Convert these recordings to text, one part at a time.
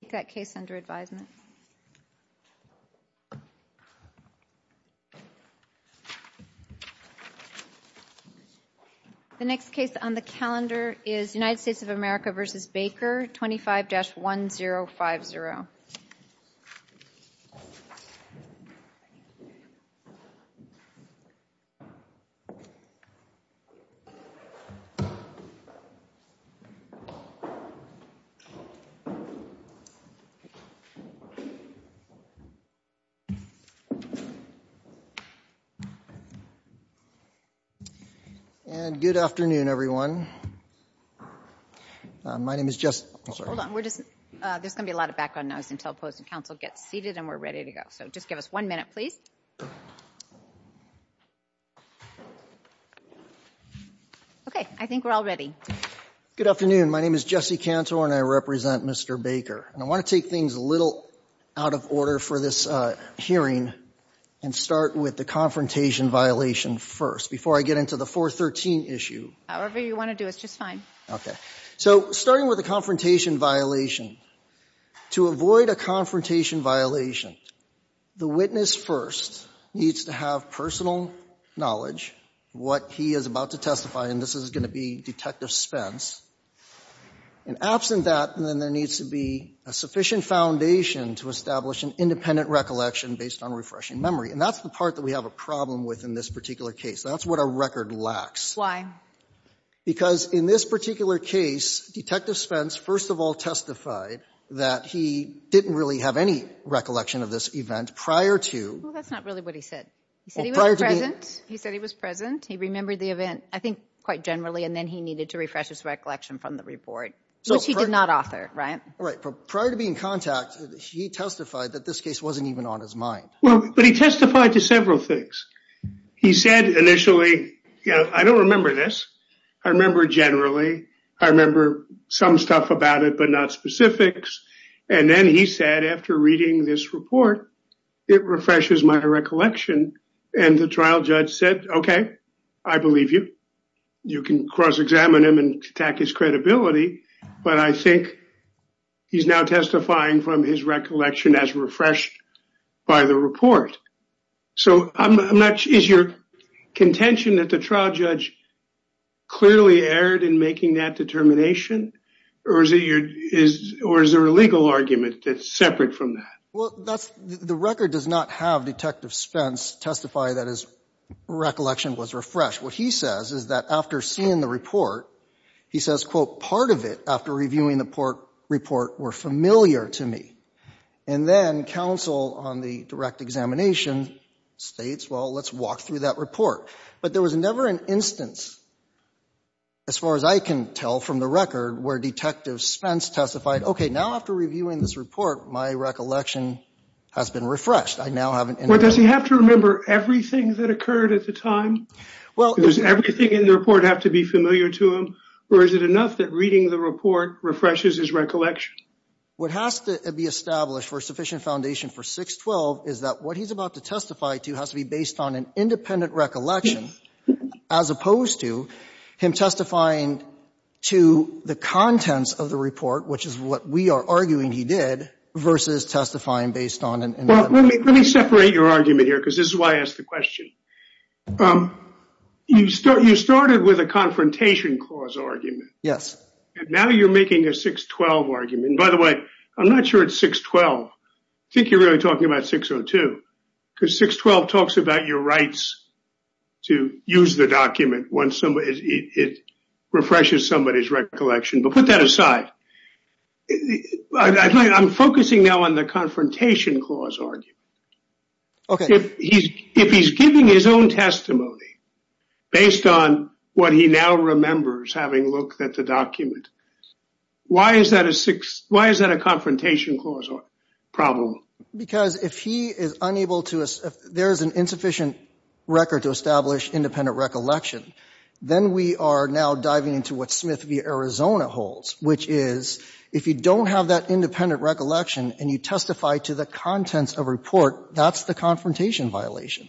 The next case on the calendar is United States of America v. Baker, 25-1050. And good afternoon, everyone. My name is Jesse. Hold on. There's going to be a lot of background noise until the opposing counsel gets seated and we're ready to go. So just give us one minute, please. Okay. I think we're all ready. Good afternoon. My name is Jesse Cantor, and I represent Mr. Baker. And I want to take things a little out of order for this hearing and start with the confrontation violation first, before I get into the 413 issue. However you want to do it's just fine. Okay. So starting with the confrontation violation, to avoid a confrontation violation, the witness first needs to have personal knowledge, what he is about to testify, and this is going to be Detective Spence. And absent that, then there needs to be a sufficient foundation to establish an independent recollection based on refreshing memory. And that's the part that we have a problem with in this particular case. That's what our record lacks. Because in this particular case, Detective Spence first of all testified that he didn't really have any recollection of this event prior to. Well, that's not really what he said. He said he was present. He said he was present. He remembered the event, I think, quite generally. And then he needed to refresh his recollection from the report, which he did not author, right? Right. But prior to being in contact, he testified that this case wasn't even on his mind. Well, but he testified to several things. He said initially, you know, I don't remember this. I remember generally. I remember some stuff about it, but not specifics. And then he said after reading this report, it refreshes my recollection. And the trial judge said, okay, I believe you. You can cross-examine him and attack his credibility. But I think he's now testifying from his recollection as refreshed by the report. So I'm not sure. Is your contention that the trial judge clearly erred in making that determination? Or is there a legal argument that's separate from that? Well, the record does not have Detective Spence testify that his recollection was refreshed. What he says is that after seeing the report, he says, quote, part of it after reviewing the report were familiar to me. And then counsel on the direct examination states, well, let's walk through that report. But there was never an instance, as far as I can tell from the record, where Detective Spence testified, okay, now after reviewing this report, my recollection has been refreshed. Does he have to remember everything that occurred at the time? Does everything in the report have to be familiar to him? Or is it enough that reading the report refreshes his recollection? What has to be established for sufficient foundation for 612 is that what he's about to testify to has to be based on an independent recollection as opposed to him testifying to the contents of the report, which is what we are arguing he did, versus testifying based on an independent recollection. Let me separate your argument here because this is why I asked the question. You started with a confrontation clause argument. Now you're making a 612 argument. By the way, I'm not sure it's 612. I think you're really talking about 602 because 612 talks about your rights to use the document once it refreshes somebody's recollection. But put that aside. I'm focusing now on the confrontation clause argument. Okay. If he's giving his own testimony based on what he now remembers having looked at the document, why is that a confrontation clause problem? Because if there is an insufficient record to establish independent recollection, then we are now diving into what Smith v. Arizona holds, which is if you don't have that independent recollection and you testify to the contents of a report, that's the confrontation violation.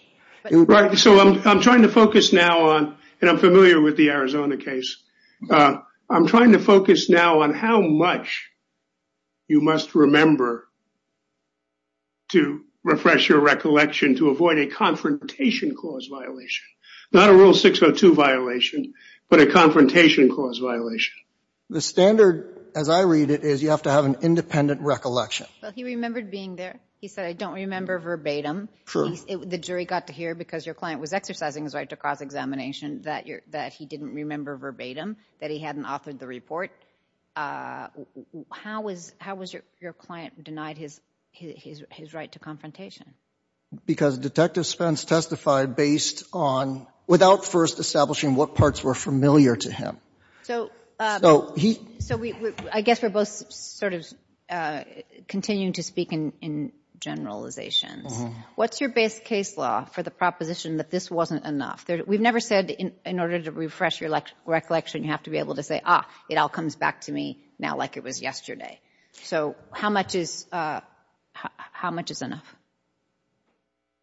Right. So I'm trying to focus now on, and I'm familiar with the Arizona case, I'm trying to focus now on how much you must remember to refresh your recollection to avoid a confrontation clause violation. Not a Rule 602 violation, but a confrontation clause violation. The standard, as I read it, is you have to have an independent recollection. Well, he remembered being there. He said, I don't remember verbatim. The jury got to hear because your client was exercising his right to cross-examination that he didn't remember verbatim, that he hadn't authored the report. How was your client denied his right to confrontation? Because Detective Spence testified based on, without first establishing what parts were familiar to him. So I guess we're both sort of continuing to speak in generalizations. What's your base case law for the proposition that this wasn't enough? We've never said in order to refresh your recollection, you have to be able to say, ah, it all comes back to me now like it was yesterday. So how much is enough?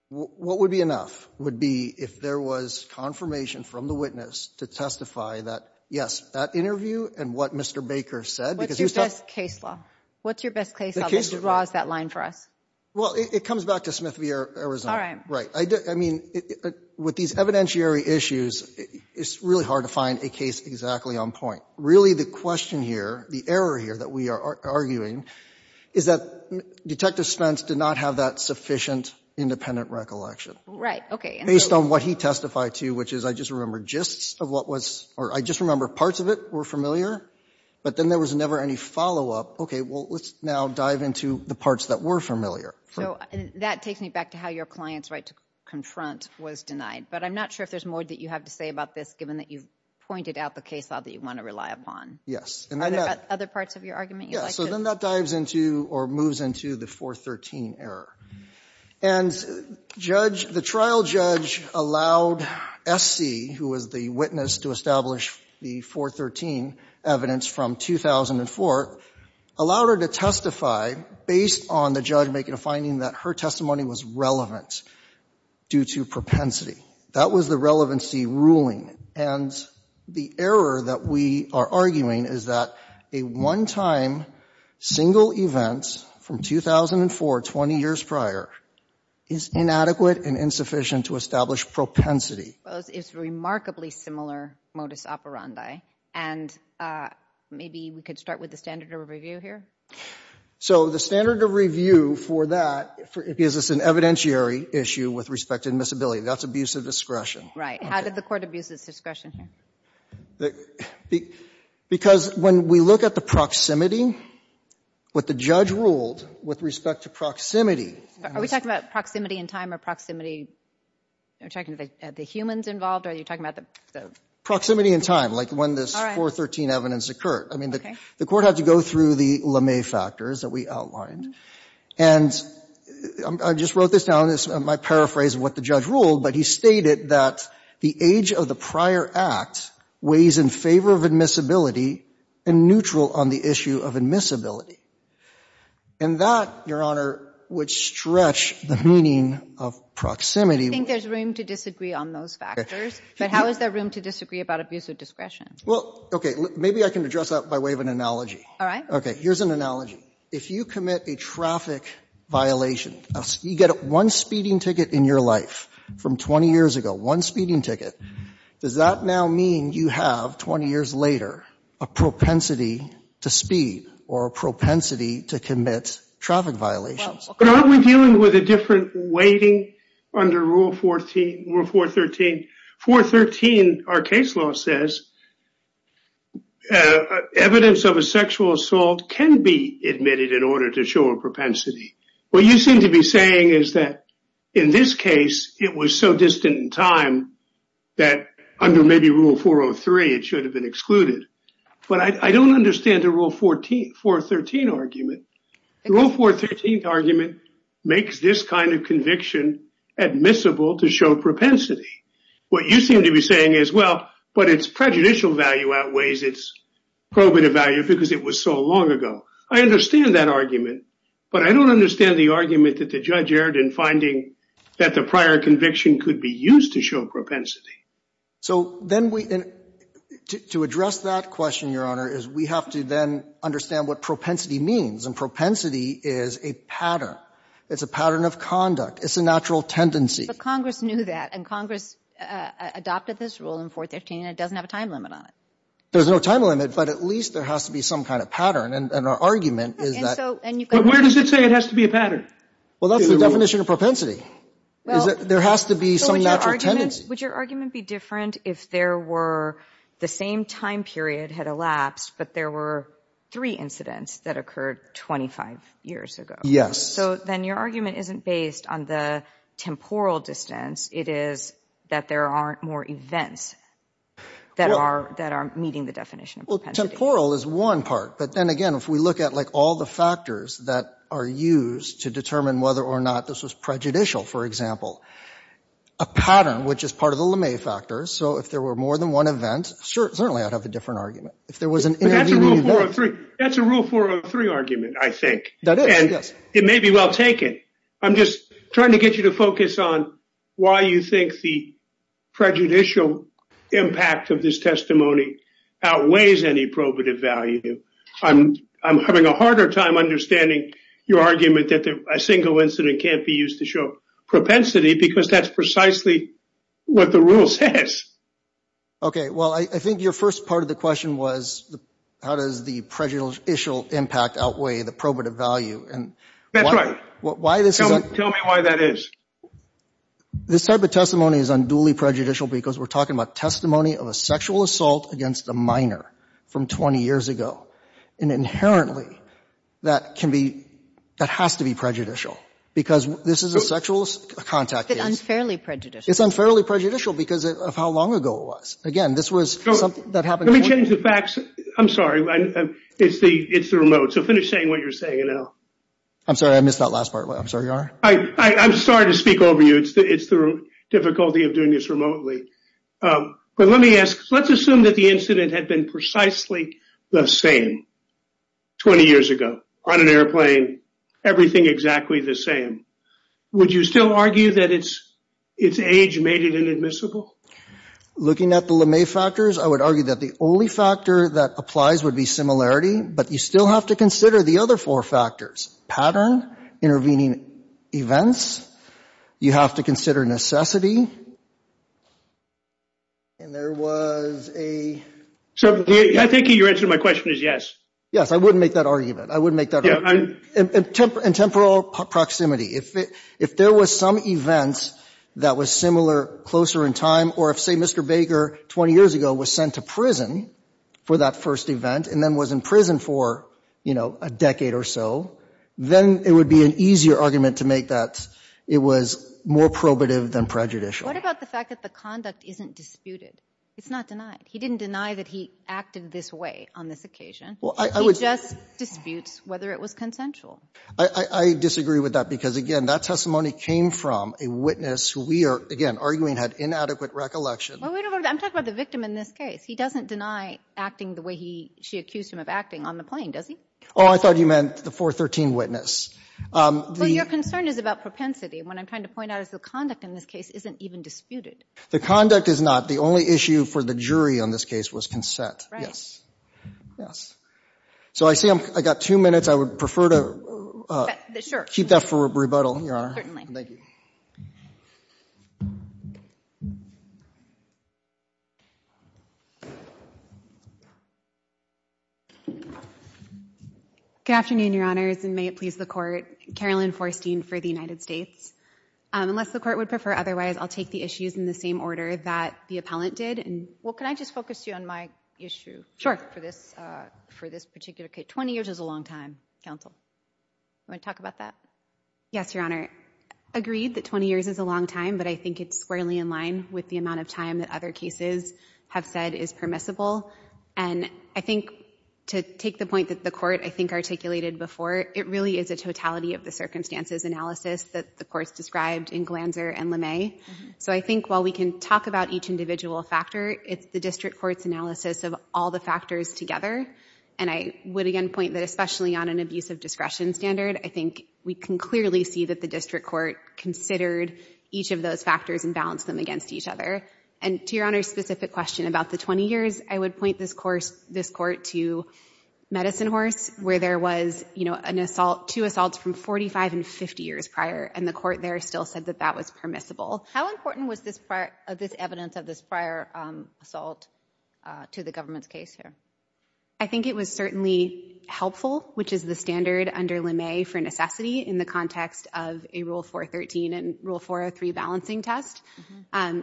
What would be enough would be if there was confirmation from the witness to testify that, yes, that interview and what Mr. Baker said. What's your best case law? What's your best case law that draws that line for us? Well, it comes back to Smith v. Arizona. All right. Right. I mean, with these evidentiary issues, it's really hard to find a case exactly on point. Really the question here, the error here that we are arguing is that Detective Spence did not have that sufficient independent recollection. Right. Okay. Based on what he testified to, which is I just remember gists of what was or I just remember parts of it were familiar, but then there was never any follow-up. Okay. Well, let's now dive into the parts that were familiar. So that takes me back to how your client's right to confront was denied. But I'm not sure if there's more that you have to say about this, given that you've pointed out the case law that you want to rely upon. Yes. Are there other parts of your argument you'd like to? Yes. So then that dives into or moves into the 413 error. And the trial judge allowed S.C., who was the witness to establish the 413 evidence from 2004, allowed her to testify based on the judge making a finding that her testimony was relevant due to propensity. That was the relevancy ruling. And the error that we are arguing is that a one-time single event from 2004, 20 years prior, is inadequate and insufficient to establish propensity. Well, it's remarkably similar modus operandi. And maybe we could start with the standard of review here. So the standard of review for that gives us an evidentiary issue with respect to admissibility. That's abuse of discretion. Right. How did the Court abuse its discretion here? Because when we look at the proximity, what the judge ruled with respect to proximity Are we talking about proximity in time or proximity of the humans involved? Are you talking about the Proximity in time, like when this 413 evidence occurred. I mean, the Court had to go through the LeMay factors that we outlined. And I just wrote this down. This is my paraphrase of what the judge ruled. But he stated that the age of the prior act weighs in favor of admissibility and neutral on the issue of admissibility. And that, Your Honor, would stretch the meaning of proximity. I think there's room to disagree on those factors. But how is there room to disagree about abuse of discretion? Well, okay. Maybe I can address that by way of an analogy. All right. Okay. Here's an analogy. If you commit a traffic violation, you get one speeding ticket in your life from 20 years ago, one speeding ticket. Does that now mean you have, 20 years later, a propensity to speed or a propensity to commit traffic violations? But aren't we dealing with a different weighting under Rule 413? 413, our case law says, evidence of a sexual assault can be admitted in order to show a propensity. What you seem to be saying is that, in this case, it was so distant in time that, under maybe Rule 403, it should have been excluded. But I don't understand the Rule 413 argument. The Rule 413 argument makes this kind of conviction admissible to show propensity. What you seem to be saying is, well, but its prejudicial value outweighs its probative value because it was so long ago. I understand that argument. But I don't understand the argument that the judge erred in finding that the prior conviction could be used to show propensity. So then we, to address that question, Your Honor, is we have to then understand what propensity means. And propensity is a pattern. It's a pattern of conduct. It's a natural tendency. But Congress knew that. And Congress adopted this rule in 413, and it doesn't have a time limit on it. There's no time limit, but at least there has to be some kind of pattern. And our argument is that. But where does it say it has to be a pattern? Well, that's the definition of propensity, is that there has to be some natural tendency. Would your argument be different if there were the same time period had elapsed, but there were three incidents that occurred 25 years ago? Yes. So then your argument isn't based on the temporal distance. It is that there aren't more events that are meeting the definition of Well, temporal is one part. But then again, if we look at, like, all the factors that are used to determine whether or not this was prejudicial, for example. A pattern, which is part of the LeMay factor. So if there were more than one event, certainly I'd have a different argument. But that's a Rule 403 argument, I think. That is, yes. And it may be well taken. I'm just trying to get you to focus on why you think the prejudicial impact of this testimony outweighs any probative value. I'm having a harder time understanding your argument that a single incident can't be used to show propensity because that's precisely what the Rule says. Okay. Well, I think your first part of the question was, how does the prejudicial impact outweigh the probative value? That's right. Tell me why that is. This type of testimony is unduly prejudicial because we're talking about testimony of a sexual assault against a minor from 20 years ago. And inherently, that has to be prejudicial. Because this is a sexual contact case. It's unfairly prejudicial. It's unfairly prejudicial because of how long ago it was. Again, this was something that happened before. Let me change the facts. I'm sorry. It's the remote. So finish saying what you're saying, and I'll. I'm sorry. I missed that last part. I'm sorry, Your Honor. I'm sorry to speak over you. It's the difficulty of doing this remotely. But let me ask. Let's assume that the incident had been precisely the same 20 years ago, on an airplane, everything exactly the same. Would you still argue that its age made it inadmissible? Looking at the LeMay factors, I would argue that the only factor that applies would be similarity. But you still have to consider the other four factors. Pattern, intervening events. You have to consider necessity. And there was a. I think your answer to my question is yes. Yes, I wouldn't make that argument. I wouldn't make that argument. And temporal proximity. If there was some event that was similar, closer in time, or if, say, Mr. Baker 20 years ago was sent to prison for that first event and then was in prison for, you know, a decade or so, then it would be an easier argument to make that it was more probative than prejudicial. What about the fact that the conduct isn't disputed? It's not denied. He didn't deny that he acted this way on this occasion. He just disputes whether it was consensual. I disagree with that. Because, again, that testimony came from a witness who we are, again, arguing had inadequate recollection. I'm talking about the victim in this case. He doesn't deny acting the way she accused him of acting on the plane, does he? Oh, I thought you meant the 413 witness. Well, your concern is about propensity. What I'm trying to point out is the conduct in this case isn't even disputed. The conduct is not. The only issue for the jury on this case was consent. Right. Yes. Yes. So I see I've got two minutes. I would prefer to keep that for rebuttal, Your Honor. Certainly. Thank you. Good afternoon, Your Honors, and may it please the Court. Carolyn Forstein for the United States. Unless the Court would prefer otherwise, I'll take the issues in the same order that the appellant did. Well, can I just focus you on my issue for this particular case? 20 years is a long time, counsel. Do you want to talk about that? Yes, Your Honor. Agreed that 20 years is a long time, but I think it's squarely in line with the amount of time that other cases have said is permissible. And I think to take the point that the Court, I think, articulated before, it really is a totality of the circumstances analysis that the Court's described in Glanzer and LeMay. So I think while we can talk about each individual factor, it's the district court's analysis of all the factors together. And I would again point that especially on an abusive discretion standard, I think we can clearly see that the district court considered each of those factors and balanced them against each other. And to Your Honor's specific question about the 20 years, I would point this court to Medicine Horse, where there was, you know, an assault, two assaults from 45 and 50 years prior, and the court there still said that that was permissible. How important was this evidence of this prior assault to the government's case here? I think it was certainly helpful, which is the standard under LeMay for necessity in the context of a Rule 413 and Rule 403 balancing test.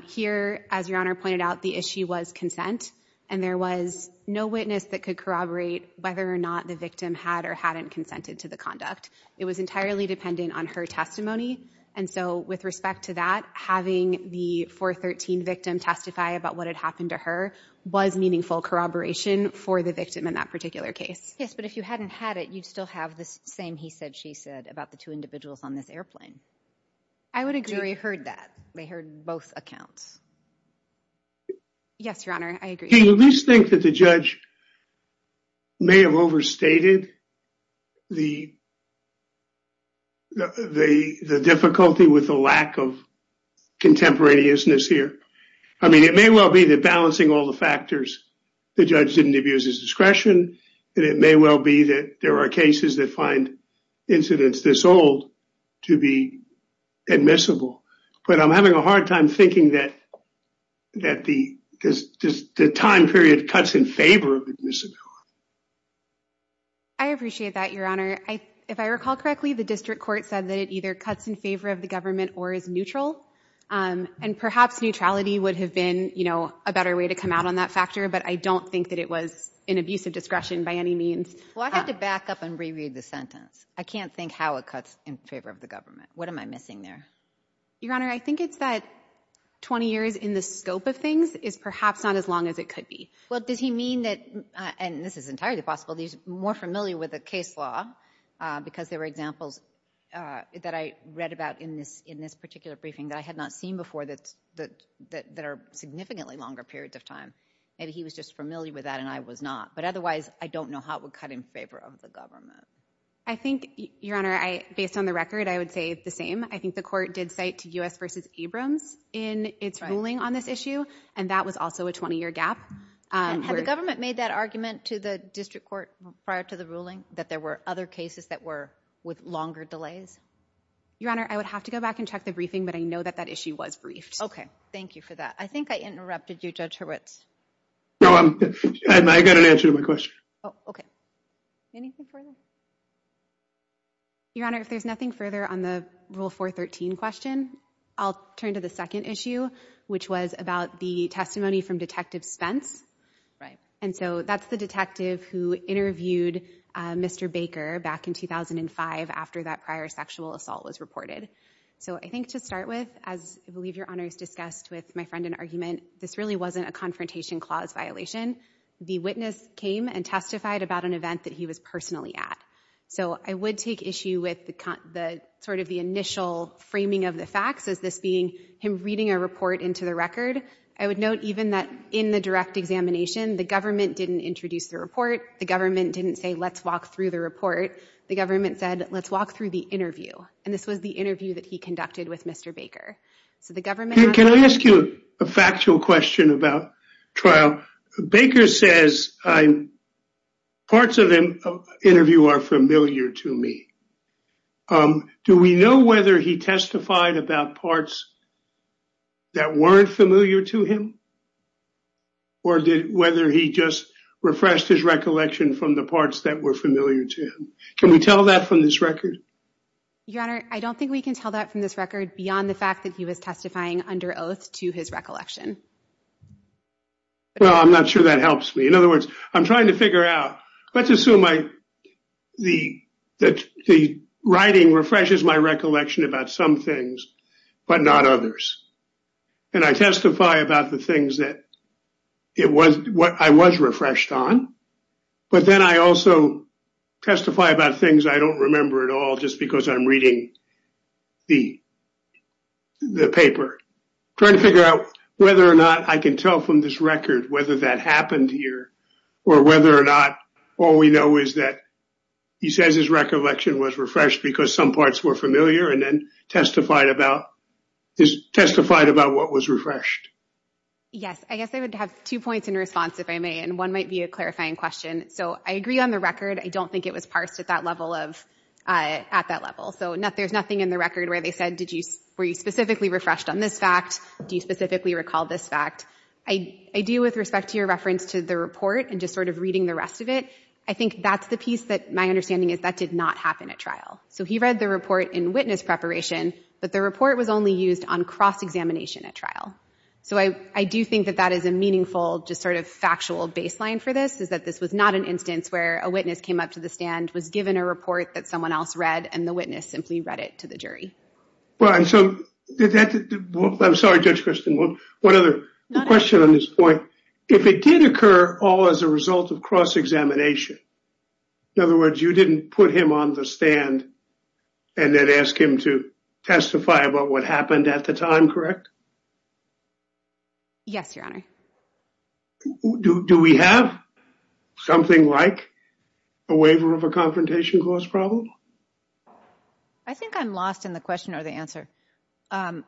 Here, as Your Honor pointed out, the issue was consent, and there was no witness that could corroborate whether or not the victim had or hadn't consented to the conduct. It was entirely dependent on her testimony. And so with respect to that, having the 413 victim testify about what had happened to her was meaningful corroboration for the victim in that particular case. Yes, but if you hadn't had it, you'd still have the same he said, she said about the two individuals on this airplane. I would agree. Jerry heard that. They heard both accounts. Yes, Your Honor, I agree. Do you at least think that the judge may have overstated the difficulty with the lack of contemporaneousness here? I mean, it may well be that balancing all the factors, the judge didn't abuse his discretion, and it may well be that there are cases that find incidents this old to be admissible. But I'm having a hard time thinking that the time period cuts in favor of admissibility. I appreciate that, Your Honor. If I recall correctly, the district court said that it either cuts in favor of the government or is neutral. And perhaps neutrality would have been a better way to come out on that factor, but I don't think that it was an abuse of discretion by any means. Well, I have to back up and reread the sentence. I can't think how it cuts in favor of the government. What am I missing there? Your Honor, I think it's that 20 years in the scope of things is perhaps not as long as it could be. Well, does he mean that, and this is entirely possible, he's more familiar with the case law because there were examples that I read about in this particular briefing that I had not seen before that are significantly longer periods of time. Maybe he was just familiar with that and I was not. But otherwise, I don't know how it would cut in favor of the government. I think, Your Honor, based on the record, I would say the same. I think the court did cite U.S. v. Abrams in its ruling on this issue, and that was also a 20-year gap. Had the government made that argument to the district court prior to the ruling that there were other cases that were with longer delays? Your Honor, I would have to go back and check the briefing, but I know that that issue was briefed. Okay, thank you for that. I think I interrupted you, Judge Hurwitz. No, I got an answer to my question. Oh, okay. Anything further? Your Honor, if there's nothing further on the Rule 413 question, I'll turn to the second issue, which was about the testimony from Detective Spence. Right. And so that's the detective who interviewed Mr. Baker back in 2005 after that prior sexual assault was reported. So I think to start with, as I believe Your Honor has discussed with my friend in argument, this really wasn't a confrontation clause violation. The witness came and testified about an event that he was personally at. So I would take issue with the sort of the initial framing of the facts as this being him reading a report into the record. I would note even that in the direct examination, the government didn't introduce the report. The government didn't say, let's walk through the report. The government said, let's walk through the interview. And this was the interview that he conducted with Mr. Baker. Can I ask you a factual question about trial? Baker says parts of the interview are familiar to me. Do we know whether he testified about parts that weren't familiar to him or whether he just refreshed his recollection from the parts that were familiar to him? Can we tell that from this record? Your Honor, I don't think we can tell that from this record beyond the fact that he was testifying under oath to his recollection. Well, I'm not sure that helps me. In other words, I'm trying to figure out. Let's assume the writing refreshes my recollection about some things but not others. And I testify about the things that I was refreshed on, but then I also testify about things I don't remember at all just because I'm reading the paper. I'm trying to figure out whether or not I can tell from this record whether that happened here or whether or not all we know is that he says his recollection was refreshed because some parts were familiar and then testified about what was refreshed. Yes. I guess I would have two points in response, if I may, and one might be a clarifying question. So I agree on the record. I don't think it was parsed at that level. So there's nothing in the record where they said, were you specifically refreshed on this fact? Do you specifically recall this fact? I do with respect to your reference to the report and just sort of reading the rest of it. I think that's the piece that my understanding is that did not happen at So he read the report in witness preparation, but the report was only used on cross-examination at trial. So I do think that that is a meaningful just sort of factual baseline for this is that this was not an instance where a witness came up to the stand, was given a report that someone else read, and the witness simply read it to the jury. I'm sorry, Judge Kristen. One other question on this point. If it did occur all as a result of cross-examination, in other words, you didn't put him on the stand and then ask him to testify about what happened at the time, correct? Yes, Your Honor. Do we have something like a waiver of a confrontation cause problem? I think I'm lost in the question or the answer. Do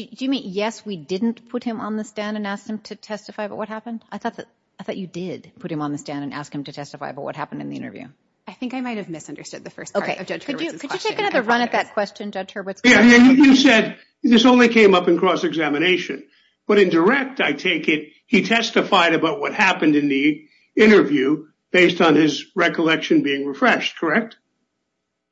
you mean, yes, we didn't put him on the stand and ask him to testify, but what happened? I thought that you did put him on the stand and ask him to testify, but what happened in the interview? I think I might've misunderstood the first part of Judge Hurwitz's question. Could you take another run at that question, Judge Hurwitz? You said this only came up in cross-examination, but in direct, I take it he testified about what happened in the interview based on his recollection being refreshed, correct?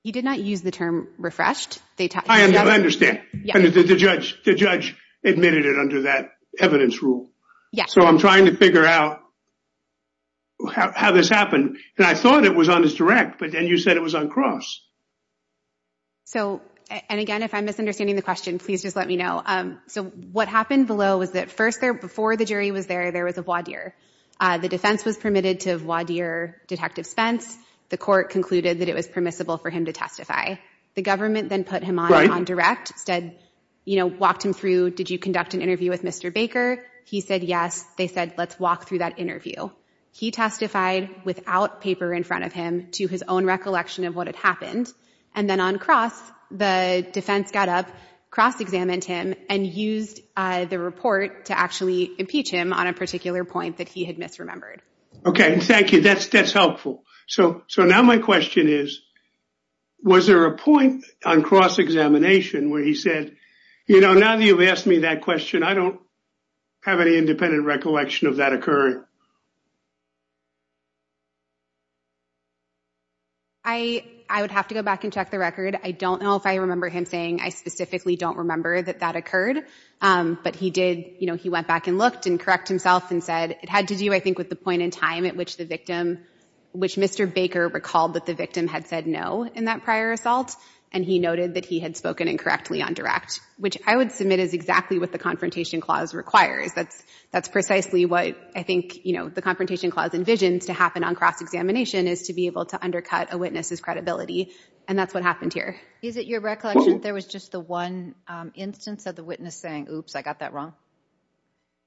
You did not use the term refreshed. I understand. The judge admitted it under that evidence rule. So I'm trying to figure out how this happened. And I thought it was on his direct, but then you said it was on cross. So, and again, if I'm misunderstanding the question, please just let me know. So what happened below was that first there, before the jury was there, there was a voir dire. The defense was permitted to voir dire Detective Spence. The court concluded that it was permissible for him to testify. The government then put him on direct, said, you know, walked him through. Did you conduct an interview with Mr. Baker? He said, yes. They said, let's walk through that interview. He testified without paper in front of him to his own recollection of what had happened. And then on cross, the defense got up, cross-examined him and used the report to actually impeach him on a particular point that he had misremembered. Okay. Thank you. That's, that's helpful. So, so now my question is, was there a point on cross-examination where he said, you know, now that you've asked me that question, I don't have any independent recollection of that occurring. I, I would have to go back and check the record. I don't know if I remember him saying, I specifically don't remember that that occurred. But he did, you know, he went back and looked and correct himself and said it had to do, I think, with the point in time at which the victim, which Mr. Baker recalled that the victim had said no in that prior assault. And he noted that he had spoken incorrectly on direct, which I would submit is exactly what the confrontation clause requires. That's, that's precisely what I think, you know, the confrontation clause envisions to happen on cross-examination is to be able to undercut a witness's credibility. And that's what happened here. Is it your recollection there was just the one instance of the witness saying, oops, I got that wrong.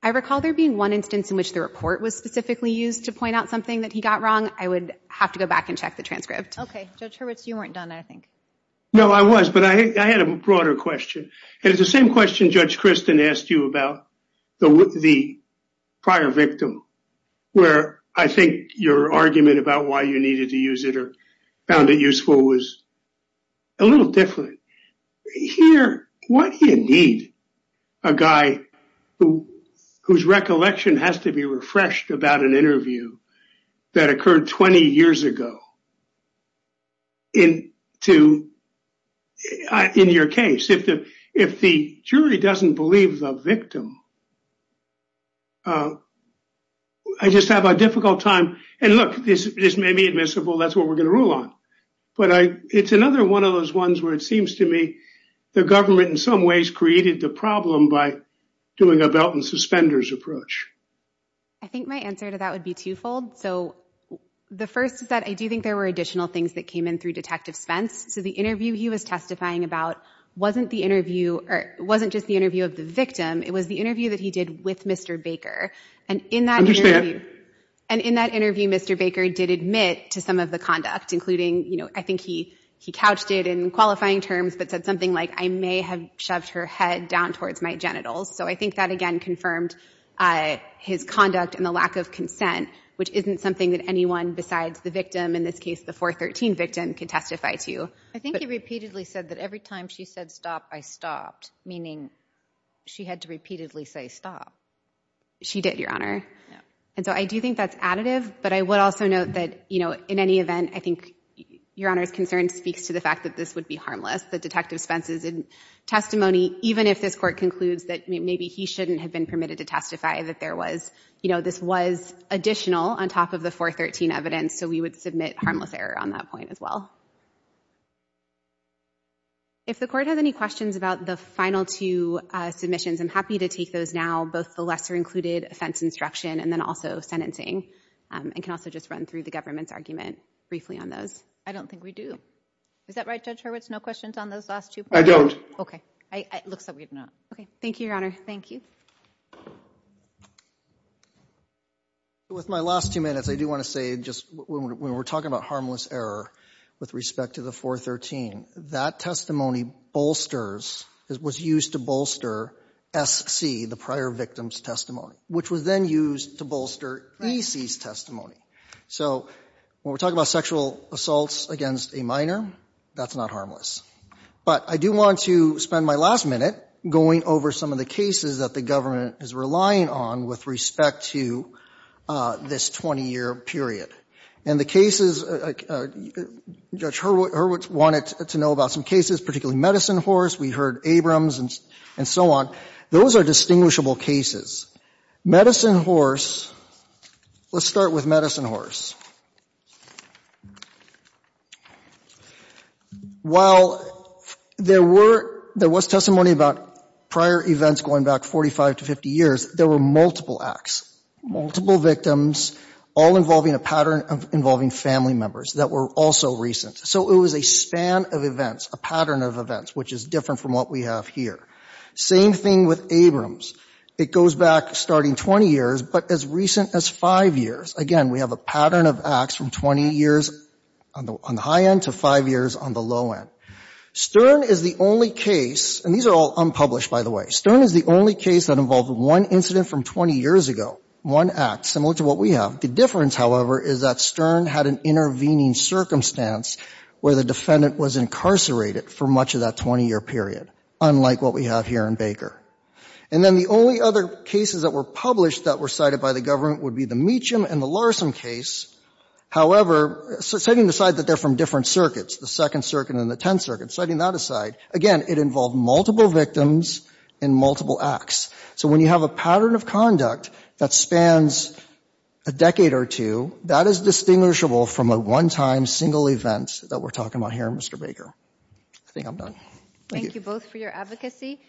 I recall there being one instance in which the report was specifically used to point out something that he got wrong. I would have to go back and check the transcript. Okay. Judge Hurwitz, you weren't done, I think. No, I was, but I, I had a broader question. And it's the same question Judge Christin asked you about the, the prior victim where I think your argument about why you needed to use it or found it useful was a little different here. What do you need a guy who, whose recollection has to be refreshed about an interview that occurred 20 years ago in to, in your case, if the, if the jury doesn't believe the victim, I just have a difficult time. And look, this, this may be admissible. That's what we're going to rule on. But I, it's another one of those ones where it seems to me the government in some ways created the problem by doing a belt and suspenders approach. I think my answer to that would be twofold. So the first is that I do think there were additional things that came in through Detective Spence. So the interview he was testifying about wasn't the interview or wasn't just the interview of the victim. It was the interview that he did with Mr. Baker. And in that interview, Mr. Baker did admit to some of the conduct, including, you know, I think he, he couched it in qualifying terms, but said something like I may have shoved her head down towards my genitals. So I think that again confirmed his conduct and the lack of consent, which isn't something that anyone besides the victim, in this case, the 413 victim could testify to. I think he repeatedly said that every time she said stop, I stopped, meaning she had to repeatedly say stop. She did, Your Honor. And so I do think that's additive, but I would also note that, you know, in any event, I think, Your Honor, his concern speaks to the fact that this would be harmless. The Detective Spence's testimony, even if this court concludes that maybe he shouldn't have been permitted to testify that there was, you know, this was additional on top of the 413 evidence. So we would submit harmless error on that point as well. If the court has any questions about the final two submissions, I'm happy to take those now, both the lesser included offense instruction and then also sentencing and can also just run through the government's argument briefly on those. I don't think we do. Is that right, Judge Hurwitz? No questions on those last two points? I don't. Okay. It looks like we do not. Okay. Thank you, Your Honor. Thank you. With my last two minutes, I do want to say just when we're talking about harmless error with respect to the 413, that testimony bolsters, was used to bolster SC, the prior victim's testimony, which was then used to bolster EC's testimony. So when we're talking about sexual assaults against a minor, that's not harmless. But I do want to spend my last minute going over some of the cases that the government is relying on with respect to this 20-year period. And the cases, Judge Hurwitz wanted to know about some cases, particularly Medicine Horse. We heard Abrams and so on. Those are distinguishable cases. Medicine Horse, let's start with Medicine Horse. While there was testimony about prior events going back 45 to 50 years, there were multiple acts, multiple victims, all involving a pattern involving family members that were also recent. So it was a span of events, a pattern of events, which is different from what we have here. Same thing with Abrams. It goes back starting 20 years, but as recent as five years. Again, we have a pattern of acts from 20 years on the high end to five years on the low end. Stern is the only case, and these are all unpublished, by the way. Stern is the only case that involved one incident from 20 years ago, one act, similar to what we have. The difference, however, is that Stern had an intervening circumstance where the defendant was incarcerated for much of that 20-year period, unlike what we have here in Baker. And then the only other cases that were published that were cited by the government would be the Meacham and the Larson case. However, setting aside that they're from different circuits, the Second Circuit and the Tenth Circuit, setting that aside, again, it involved multiple victims and multiple acts. So when you have a pattern of conduct that spans a decade or two, that is distinguishable from a one-time single event that we're talking about here, Mr. Baker. I think I'm done. Thank you. Thank you both for your advocacy.